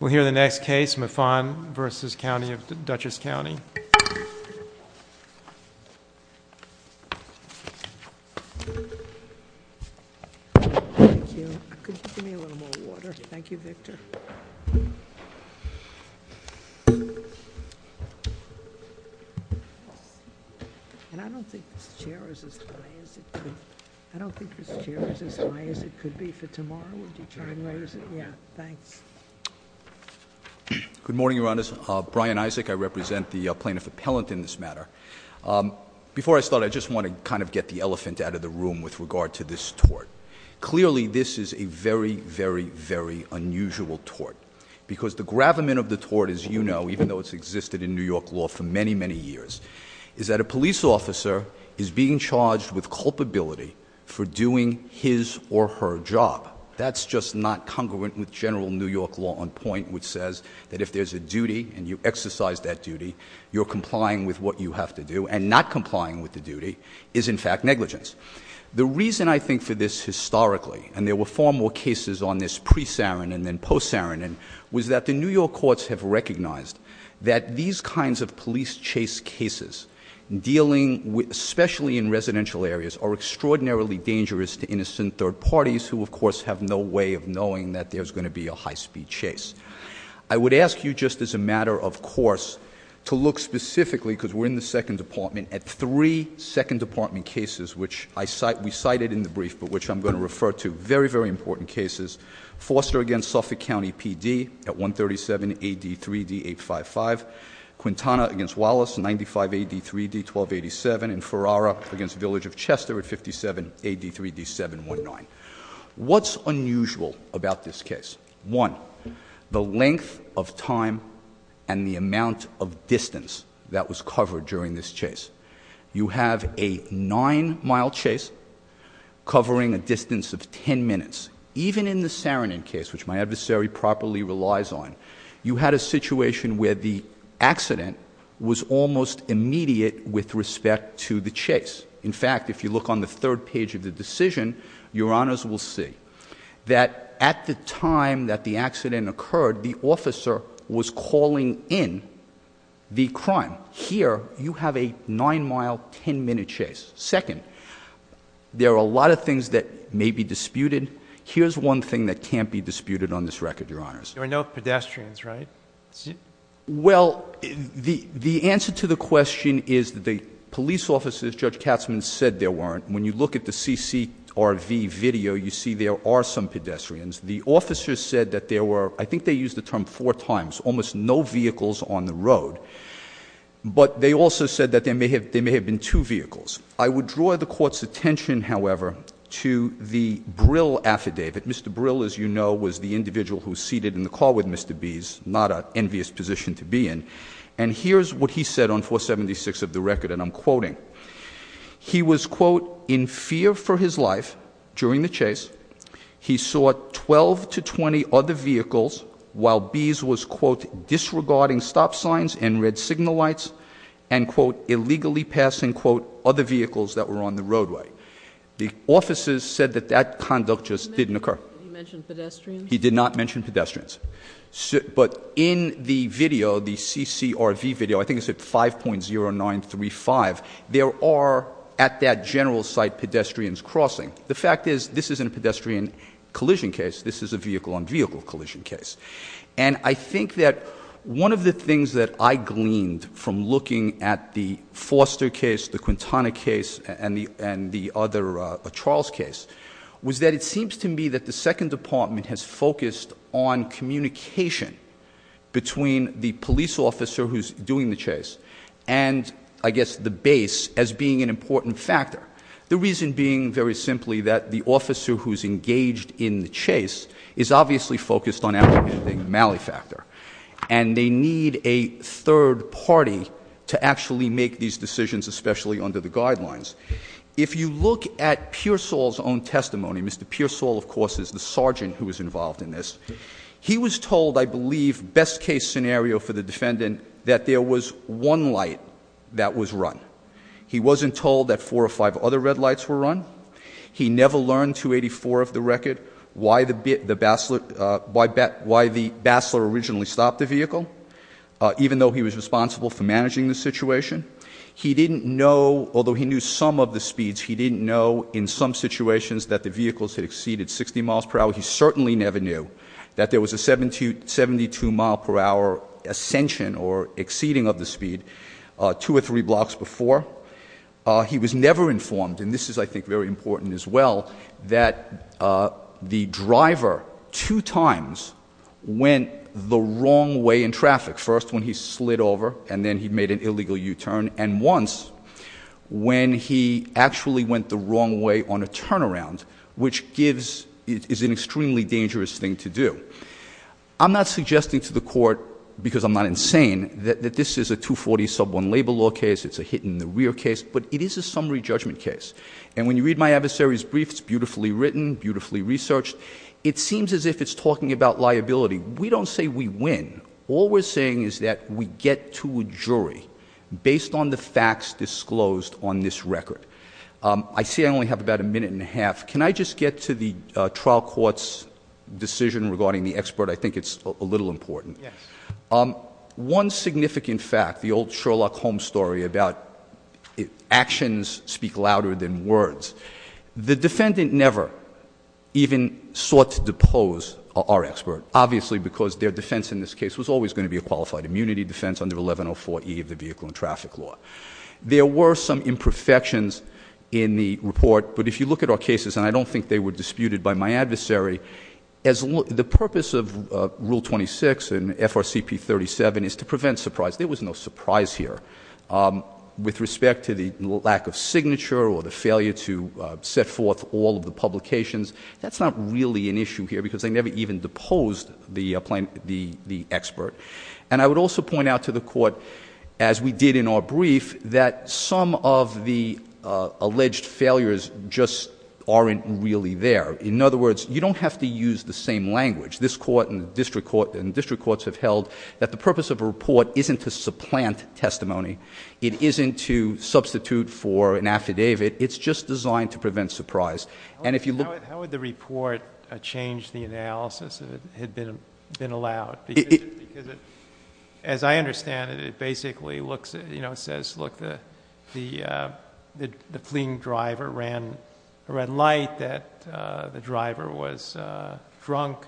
We'll hear the next case, Mfon v. County of Dutchess County. Thanks. Good morning, Your Honors. Brian Isaac, I represent the plaintiff appellant in this matter. Before I start, I just want to kind of get the elephant out of the room with regard to this tort. Clearly, this is a very, very, very unusual tort. Because the gravamen of the tort, as you know, even though it's existed in New York law for many, many years, is that a police officer is being charged with culpability for doing his or her job. That's just not congruent with general New York law on point, which says that if there's a duty and you exercise that duty, you're complying with what you have to do, and not complying with the duty, is in fact negligence. The reason, I think, for this historically, and there were far more cases on this pre-Sarin and then post-Sarin, was that the New York courts have recognized that these kinds of police chase cases, dealing especially in residential areas, are extraordinarily dangerous to innocent third parties, who, of course, have no way of knowing that there's going to be a high-speed chase. I would ask you, just as a matter of course, to look specifically, because we're in the second department, at three second department cases, which we cited in the brief, but which I'm going to refer to. Very, very important cases. Foster against Suffolk County PD at 137 AD 3D 855. Quintana against Wallace, 95 AD 3D 1287. And Ferrara against Village of Chester at 57 AD 3D 719. What's unusual about this case? One, the length of time and the amount of distance that was covered during this chase. You have a nine mile chase covering a distance of ten minutes. Even in the Sarin case, which my adversary properly relies on, you had a situation where the accident was almost immediate with respect to the chase. In fact, if you look on the third page of the decision, your honors will see that at the time that the accident occurred, the officer was calling in the crime. Here, you have a nine mile, ten minute chase. Second, there are a lot of things that may be disputed. Here's one thing that can't be disputed on this record, your honors. There were no pedestrians, right? Well, the answer to the question is that the police officers, Judge Katzmann, said there weren't. When you look at the CCRV video, you see there are some pedestrians. The officers said that there were, I think they used the term four times, almost no vehicles on the road. But they also said that there may have been two vehicles. I would draw the court's attention, however, to the Brill affidavit. Mr. Brill, as you know, was the individual who seated in the car with Mr. Bees, not an envious position to be in. And here's what he said on 476 of the record, and I'm quoting. He was, quote, in fear for his life during the chase. He saw 12 to 20 other vehicles while Bees was, quote, disregarding stop signs and red signal lights and, quote, illegally passing, quote, other vehicles that were on the roadway. The officers said that that conduct just didn't occur. He mentioned pedestrians? He did not mention pedestrians. But in the video, the CCRV video, I think it's at 5.0935, there are, at that general site, pedestrians crossing. The fact is, this isn't a pedestrian collision case, this is a vehicle on vehicle collision case. And I think that one of the things that I gleaned from looking at the Foster case, the Quintana case, and the other Charles case, was that it seems to me that the second department has focused on communication between the police officer who's doing the chase and, I guess, the base as being an important factor. The reason being, very simply, that the officer who's engaged in the chase is obviously focused on apprehending the malefactor. And they need a third party to actually make these decisions, especially under the guidelines. If you look at Pearsall's own testimony, Mr. Pearsall, of course, is the sergeant who was involved in this. He was told, I believe, best case scenario for the defendant, that there was one light that was run. He wasn't told that four or five other red lights were run. He never learned, 284 of the record, why the bastler originally stopped the vehicle. Even though he was responsible for managing the situation. He didn't know, although he knew some of the speeds, he didn't know in some situations that the vehicles had exceeded 60 miles per hour. He certainly never knew that there was a 72 mile per hour ascension, or exceeding of the speed, two or three blocks before. He was never informed, and this is, I think, very important as well, that the driver, two times, went the wrong way in traffic. First, when he slid over, and then he made an illegal U-turn. And once, when he actually went the wrong way on a turnaround, which is an extremely dangerous thing to do. I'm not suggesting to the court, because I'm not insane, that this is a 240 sub one labor law case. It's a hit in the rear case, but it is a summary judgment case. And when you read my adversary's brief, it's beautifully written, beautifully researched. It seems as if it's talking about liability. We don't say we win. All we're saying is that we get to a jury based on the facts disclosed on this record. I see I only have about a minute and a half. Can I just get to the trial court's decision regarding the expert? I think it's a little important. One significant fact, the old Sherlock Holmes story about actions speak louder than words. The defendant never even sought to depose our expert, obviously because their defense in this case was always going to be a qualified immunity defense under 1104E of the vehicle and traffic law. There were some imperfections in the report, but if you look at our cases, and I don't think they were disputed by my adversary, the purpose of rule 26 and FRCP 37 is to prevent surprise. There was no surprise here. With respect to the lack of signature or the failure to set forth all of the publications, that's not really an issue here because they never even deposed the expert. And I would also point out to the court, as we did in our brief, that some of the alleged failures just aren't really there. In other words, you don't have to use the same language. This court and district courts have held that the purpose of a report isn't to supplant testimony. It isn't to substitute for an affidavit. It's just designed to prevent surprise. And if you look- How would the report change the analysis if it had been allowed? Because as I understand it, it basically says, look, the fleeing driver ran a red light, that the driver was drunk,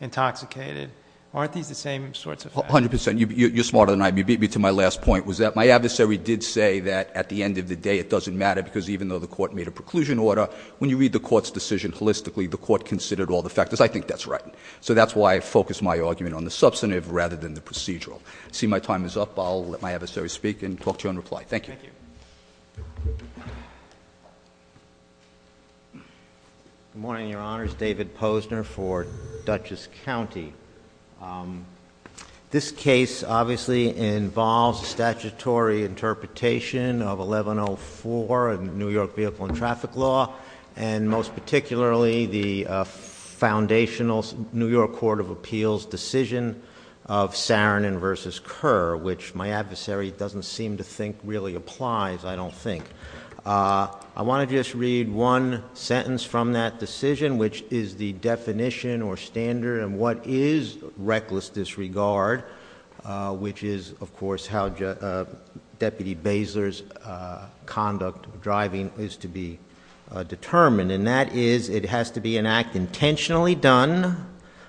intoxicated. Aren't these the same sorts of factors? 100%, you're smarter than I am. You beat me to my last point, was that my adversary did say that at the end of the day, it doesn't matter. Because even though the court made a preclusion order, when you read the court's decision holistically, the court considered all the factors. I think that's right. So that's why I focus my argument on the substantive rather than the procedural. See, my time is up. I'll let my adversary speak and talk to you in reply. Thank you. Good morning, your honors. David Posner for Dutchess County. This case obviously involves statutory interpretation of 1104 in New York vehicle and traffic law. And most particularly, the foundational New York Court of Appeals decision of Saron and versus Kerr, which my adversary doesn't seem to think really applies, I don't think. I want to just read one sentence from that decision, which is the definition or standard of what is reckless disregard, which is, of course, how Deputy Basler's conduct, driving, is to be determined. And that is, it has to be an act intentionally done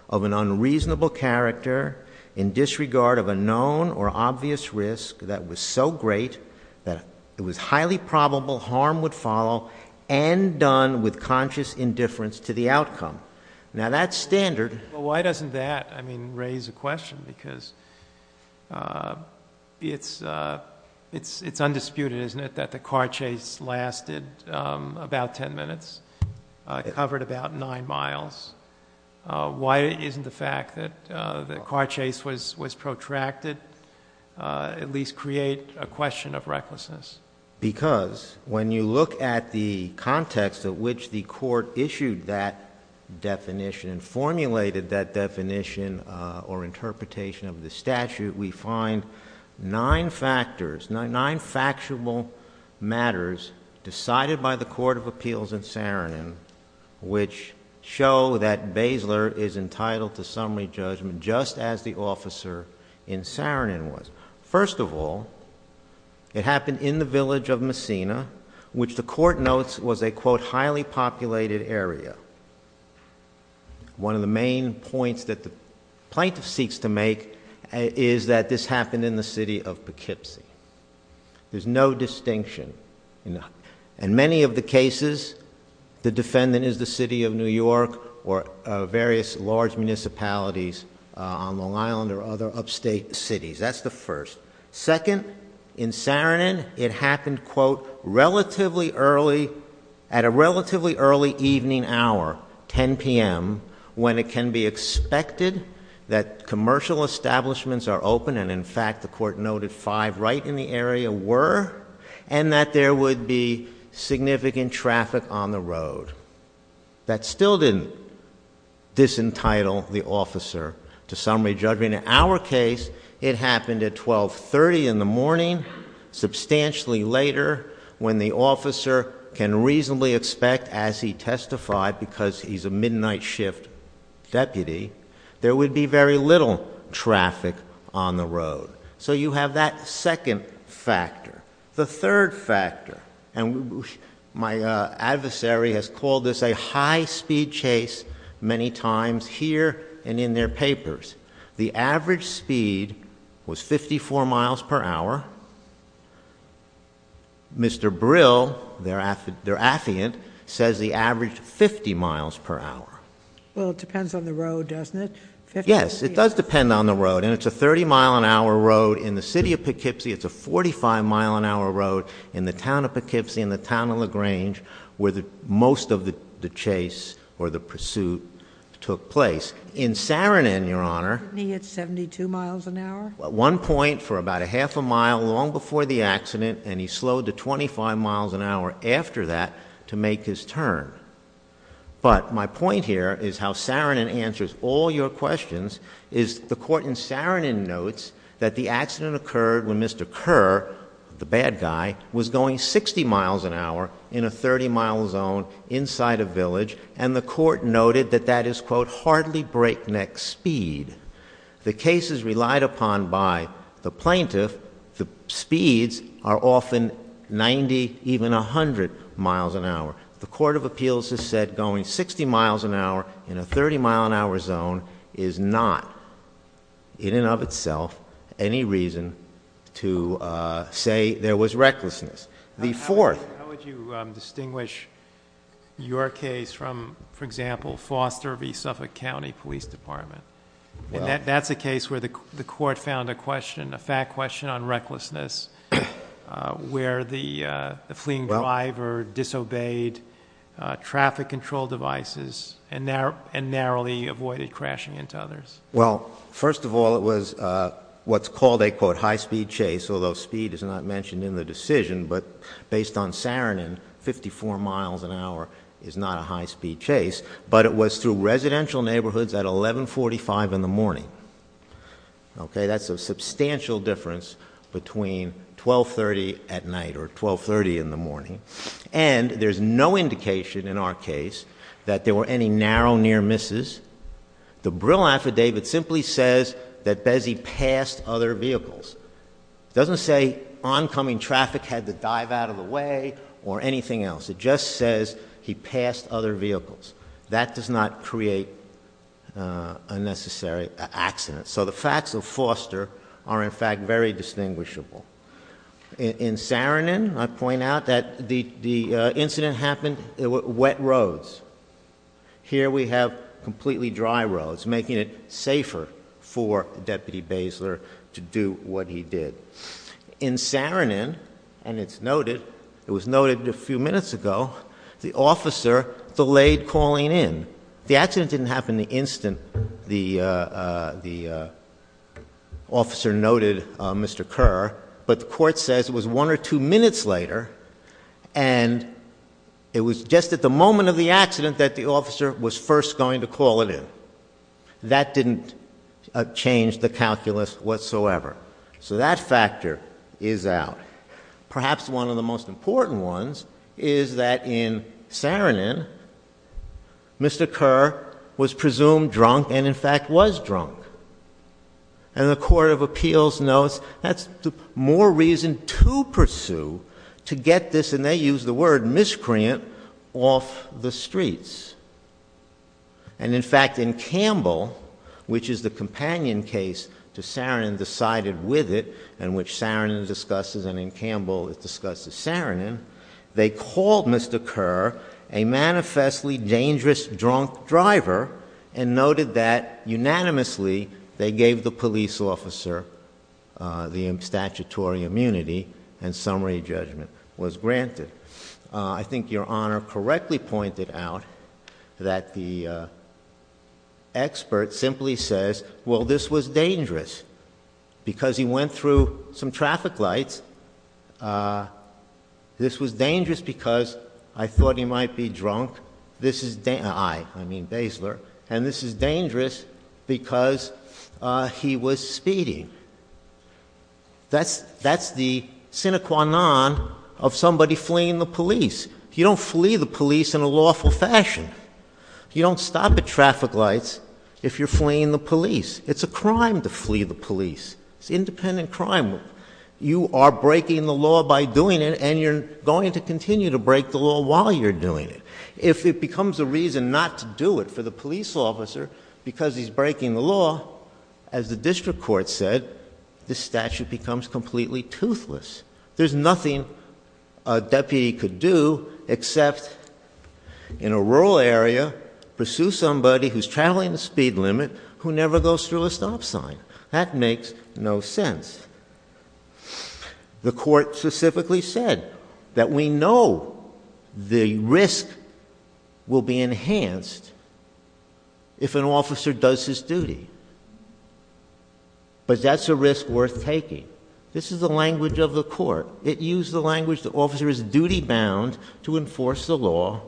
of an unreasonable character in disregard of a known or obvious risk that was so great that it was highly probable harm would follow. And done with conscious indifference to the outcome. Now that standard- Does that, I mean, raise a question? Because it's undisputed, isn't it, that the car chase lasted about ten minutes, covered about nine miles. Why isn't the fact that the car chase was protracted at least create a question of recklessness? Because when you look at the context at which the court issued that definition or interpretation of the statute, we find nine factors, nine factual matters decided by the Court of Appeals in Saron, which show that Basler is entitled to summary judgment just as the officer in Saron was. First of all, it happened in the village of Messina, which the court notes was a quote, highly populated area. One of the main points that the plaintiff seeks to make is that this happened in the city of Poughkeepsie. There's no distinction. In many of the cases, the defendant is the city of New York or various large municipalities on Long Island or other upstate cities. That's the first. Second, in Saron, it happened, quote, relatively early, at a relatively early evening hour, 10 PM, when it can be expected that commercial establishments are open, and in fact, the court noted five right in the area were, and that there would be significant traffic on the road. That still didn't disentitle the officer to summary judgment. In our case, it happened at 12.30 in the morning, substantially later, when the officer can reasonably expect, as he testified, because he's a midnight shift deputy, there would be very little traffic on the road. So you have that second factor. The third factor, and my adversary has called this a high speed chase many times here and in their papers. The average speed was 54 miles per hour. Mr. Brill, their affiant, says the average 50 miles per hour. Well, it depends on the road, doesn't it? Yes, it does depend on the road, and it's a 30 mile an hour road in the city of Poughkeepsie. It's a 45 mile an hour road in the town of Poughkeepsie, in the town of LaGrange, where most of the chase or the pursuit took place. In Saarinen, Your Honor. Isn't he at 72 miles an hour? At one point, for about a half a mile, long before the accident, and he slowed to 25 miles an hour after that to make his turn. But my point here is how Saarinen answers all your questions is the court in Saarinen notes that the accident occurred when Mr. Kerr, the bad guy, was going 60 miles an hour in a 30 mile zone inside a village. And the court noted that that is, quote, hardly breakneck speed. The case is relied upon by the plaintiff. The speeds are often 90, even 100 miles an hour. The court of appeals has said going 60 miles an hour in a 30 mile an hour zone is not, in and of itself, any reason to say there was recklessness. The fourth- How would you distinguish your case from, for example, Foster v. Suffolk County Police Department? And that's a case where the court found a question, a fact question on recklessness, where the fleeing driver disobeyed traffic control devices and narrowly avoided crashing into others. Well, first of all, it was what's called a, quote, high speed chase. Although speed is not mentioned in the decision, but based on Saarinen, 54 miles an hour is not a high speed chase. But it was through residential neighborhoods at 11.45 in the morning. Okay, that's a substantial difference between 12.30 at night or 12.30 in the morning. And there's no indication in our case that there were any narrow near misses. The Brill Affidavit simply says that Bessie passed other vehicles. It doesn't say oncoming traffic had to dive out of the way or anything else. It just says he passed other vehicles. That does not create a necessary accident. So the facts of Foster are, in fact, very distinguishable. In Saarinen, I point out that the incident happened, wet roads. Here we have completely dry roads, making it safer for Deputy Basler to do what he did. In Saarinen, and it's noted, it was noted a few minutes ago, the officer delayed calling in. The accident didn't happen the instant the officer noted Mr. Kerr. But the court says it was one or two minutes later, and it was just at the moment of the accident that the officer was first going to call it in. That didn't change the calculus whatsoever. So that factor is out. Perhaps one of the most important ones is that in Saarinen, Mr. Kerr was presumed drunk and in fact was drunk. And the Court of Appeals notes that's the more reason to pursue, to get this, and they use the word, miscreant, off the streets. And in fact, in Campbell, which is the companion case to Saarinen, decided with it, and which Saarinen discusses, and in Campbell it discusses Saarinen. They called Mr. Kerr a manifestly dangerous drunk driver and noted that unanimously they gave the police officer the statutory immunity and summary judgment was granted. I think your honor correctly pointed out that the expert simply says, well this was dangerous because he went through some traffic lights. This was dangerous because I thought he might be drunk. This is, I mean Basler, and this is dangerous because he was speeding. That's the sine qua non of somebody fleeing the police. You don't flee the police in a lawful fashion. You don't stop at traffic lights if you're fleeing the police. It's a crime to flee the police. It's independent crime. You are breaking the law by doing it and you're going to continue to break the law while you're doing it. If it becomes a reason not to do it for the police officer because he's breaking the law, as the district court said, the statute becomes completely toothless. There's nothing a deputy could do except in a rural area, pursue somebody who's traveling the speed limit, who never goes through a stop sign. That makes no sense. The court specifically said that we know the risk will be enhanced if an officer does his duty. But that's a risk worth taking. This is the language of the court. It used the language the officer is duty bound to enforce the law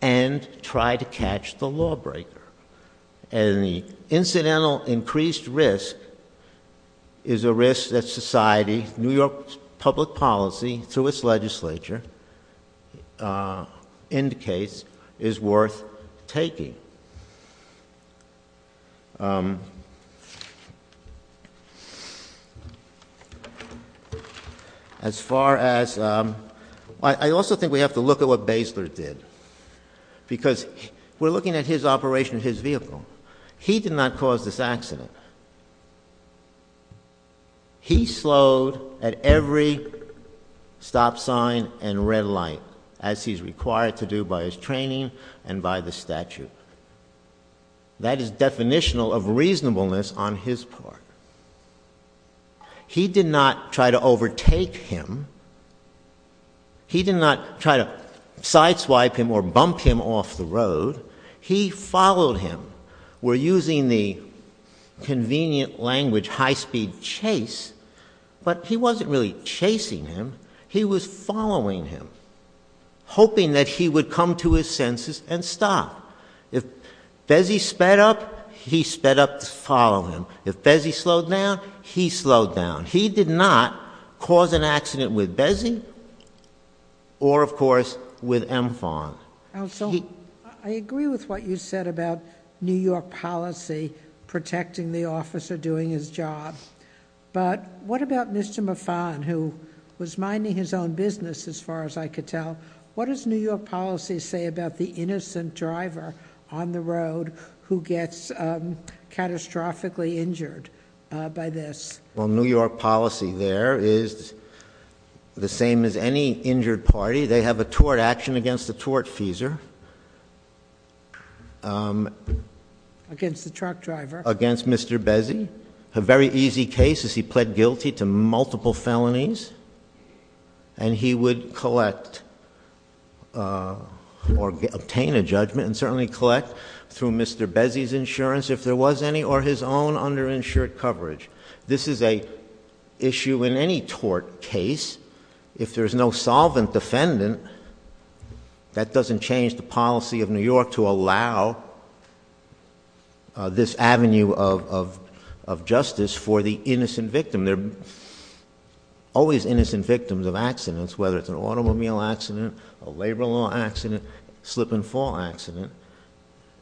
and try to catch the law breaker. And the incidental increased risk is a risk that society, New York's public policy, through its legislature, indicates is worth taking. As far as, I also think we have to look at what Basler did. Because we're looking at his operation of his vehicle. He did not cause this accident. He slowed at every stop sign and red light as he's required to do by his training and by the statute. That is definitional of reasonableness on his part. He did not try to overtake him. He did not try to side swipe him or bump him off the road. He followed him. We're using the convenient language high speed chase, but he wasn't really chasing him. He was following him, hoping that he would come to his senses and stop. If Bessie sped up, he sped up to follow him. If Bessie slowed down, he slowed down. He did not cause an accident with Bessie or, of course, with M Fon. Also, I agree with what you said about New York policy protecting the officer doing his job. But what about Mr. Mufan, who was minding his own business, as far as I could tell. What does New York policy say about the innocent driver on the road who gets catastrophically injured by this? Well, New York policy there is the same as any injured party. They have a tort action against the tortfeasor. Against the truck driver. Against Mr. Bessie. A very easy case is he pled guilty to multiple felonies and he would collect or obtain a judgment and certainly collect through Mr. Bessie's insurance if there was any or his own underinsured coverage. This is a issue in any tort case. If there's no solvent defendant, that doesn't change the policy of New York to allow this avenue of justice for the innocent victim. There are always innocent victims of accidents, whether it's an automobile accident, a labor law accident, slip and fall accident.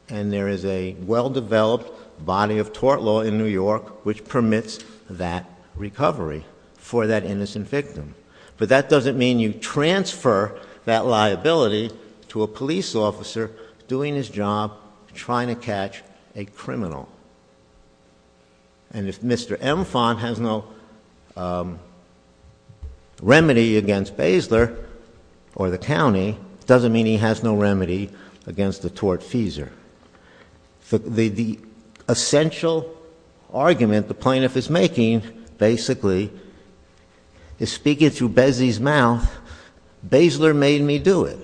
And there is a well-developed body of tort law in New York which permits that recovery for that innocent victim. But that doesn't mean you transfer that liability to a police officer doing his job trying to catch a criminal. And if Mr. Mufan has no remedy against Basler or the county, doesn't mean he has no remedy against the tortfeasor. The essential argument the plaintiff is making, basically, is speaking through Bessie's mouth, Basler made me do it,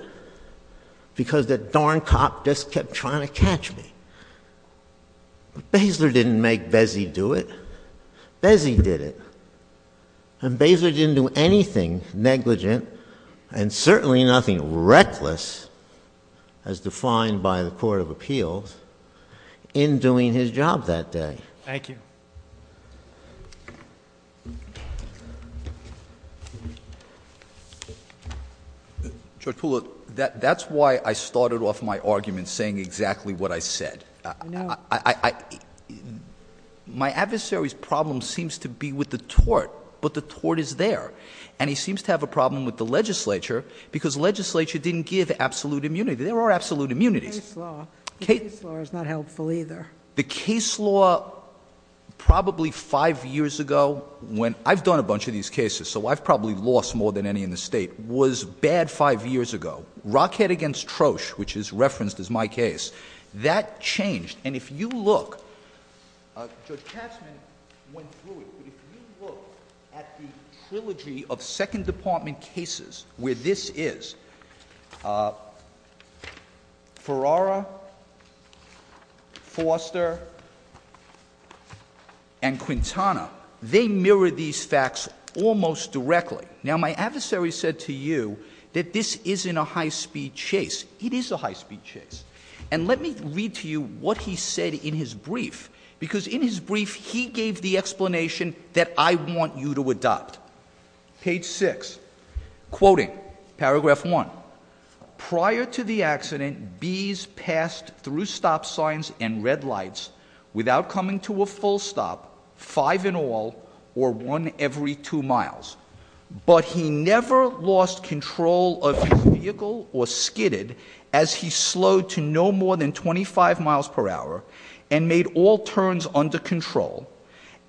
because that darn cop just kept trying to catch me. Basler didn't make Bessie do it, Bessie did it. And Basler didn't do anything negligent and certainly nothing reckless, as defined by the Court of Appeals, in doing his job that day. Thank you. Judge Poole, that's why I started off my argument saying exactly what I said. My adversary's problem seems to be with the tort, but the tort is there. And he seems to have a problem with the legislature, because legislature didn't give absolute immunity. There are absolute immunities. Case law is not helpful either. The case law, probably five years ago, when I've done a bunch of these cases, so I've probably lost more than any in the state, was bad five years ago. Rockhead against Trosh, which is referenced as my case, that changed. And if you look, Judge Katzman went through it, but if you look at the trilogy of second department cases where this is, Ferrara, Foster, and Quintana, they mirror these facts almost directly. Now my adversary said to you that this isn't a high speed chase. It is a high speed chase. And let me read to you what he said in his brief, because in his brief he gave the explanation that I want you to adopt. Page six, quoting paragraph one. Prior to the accident, bees passed through stop signs and red lights without coming to a full stop, five in all, or one every two miles. But he never lost control of his vehicle or skidded, as he slowed to no more than 25 miles per hour, and made all turns under control.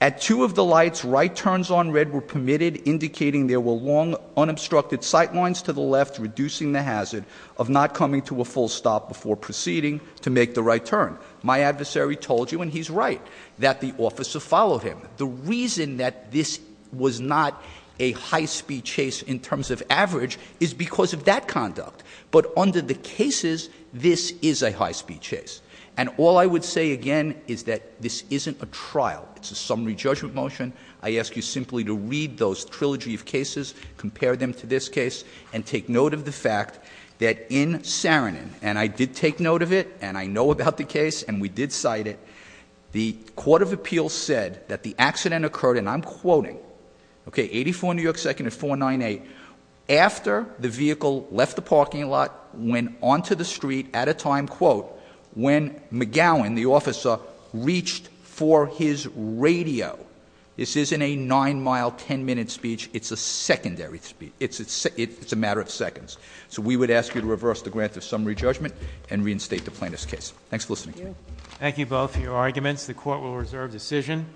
At two of the lights, right turns on red were permitted, indicating there were long unobstructed sight lines to the left, reducing the hazard of not coming to a full stop before proceeding to make the right turn. My adversary told you, and he's right, that the officer followed him. The reason that this was not a high speed chase in terms of average is because of that conduct. But under the cases, this is a high speed chase. And all I would say again is that this isn't a trial, it's a summary judgment motion. I ask you simply to read those trilogy of cases, compare them to this case, and take note of the fact that in Saarinen, and I did take note of it, and I know about the case, and we did cite it. The Court of Appeals said that the accident occurred, and I'm quoting, okay, 84 New York 2nd at 498. After the vehicle left the parking lot, went onto the street at a time, quote, when McGowan, the officer, reached for his radio. This isn't a nine mile, ten minute speech, it's a secondary speech. It's a matter of seconds. So we would ask you to reverse the grant of summary judgment and reinstate the plaintiff's case. Thanks for listening to me. Thank you both for your arguments. The court will reserve decision.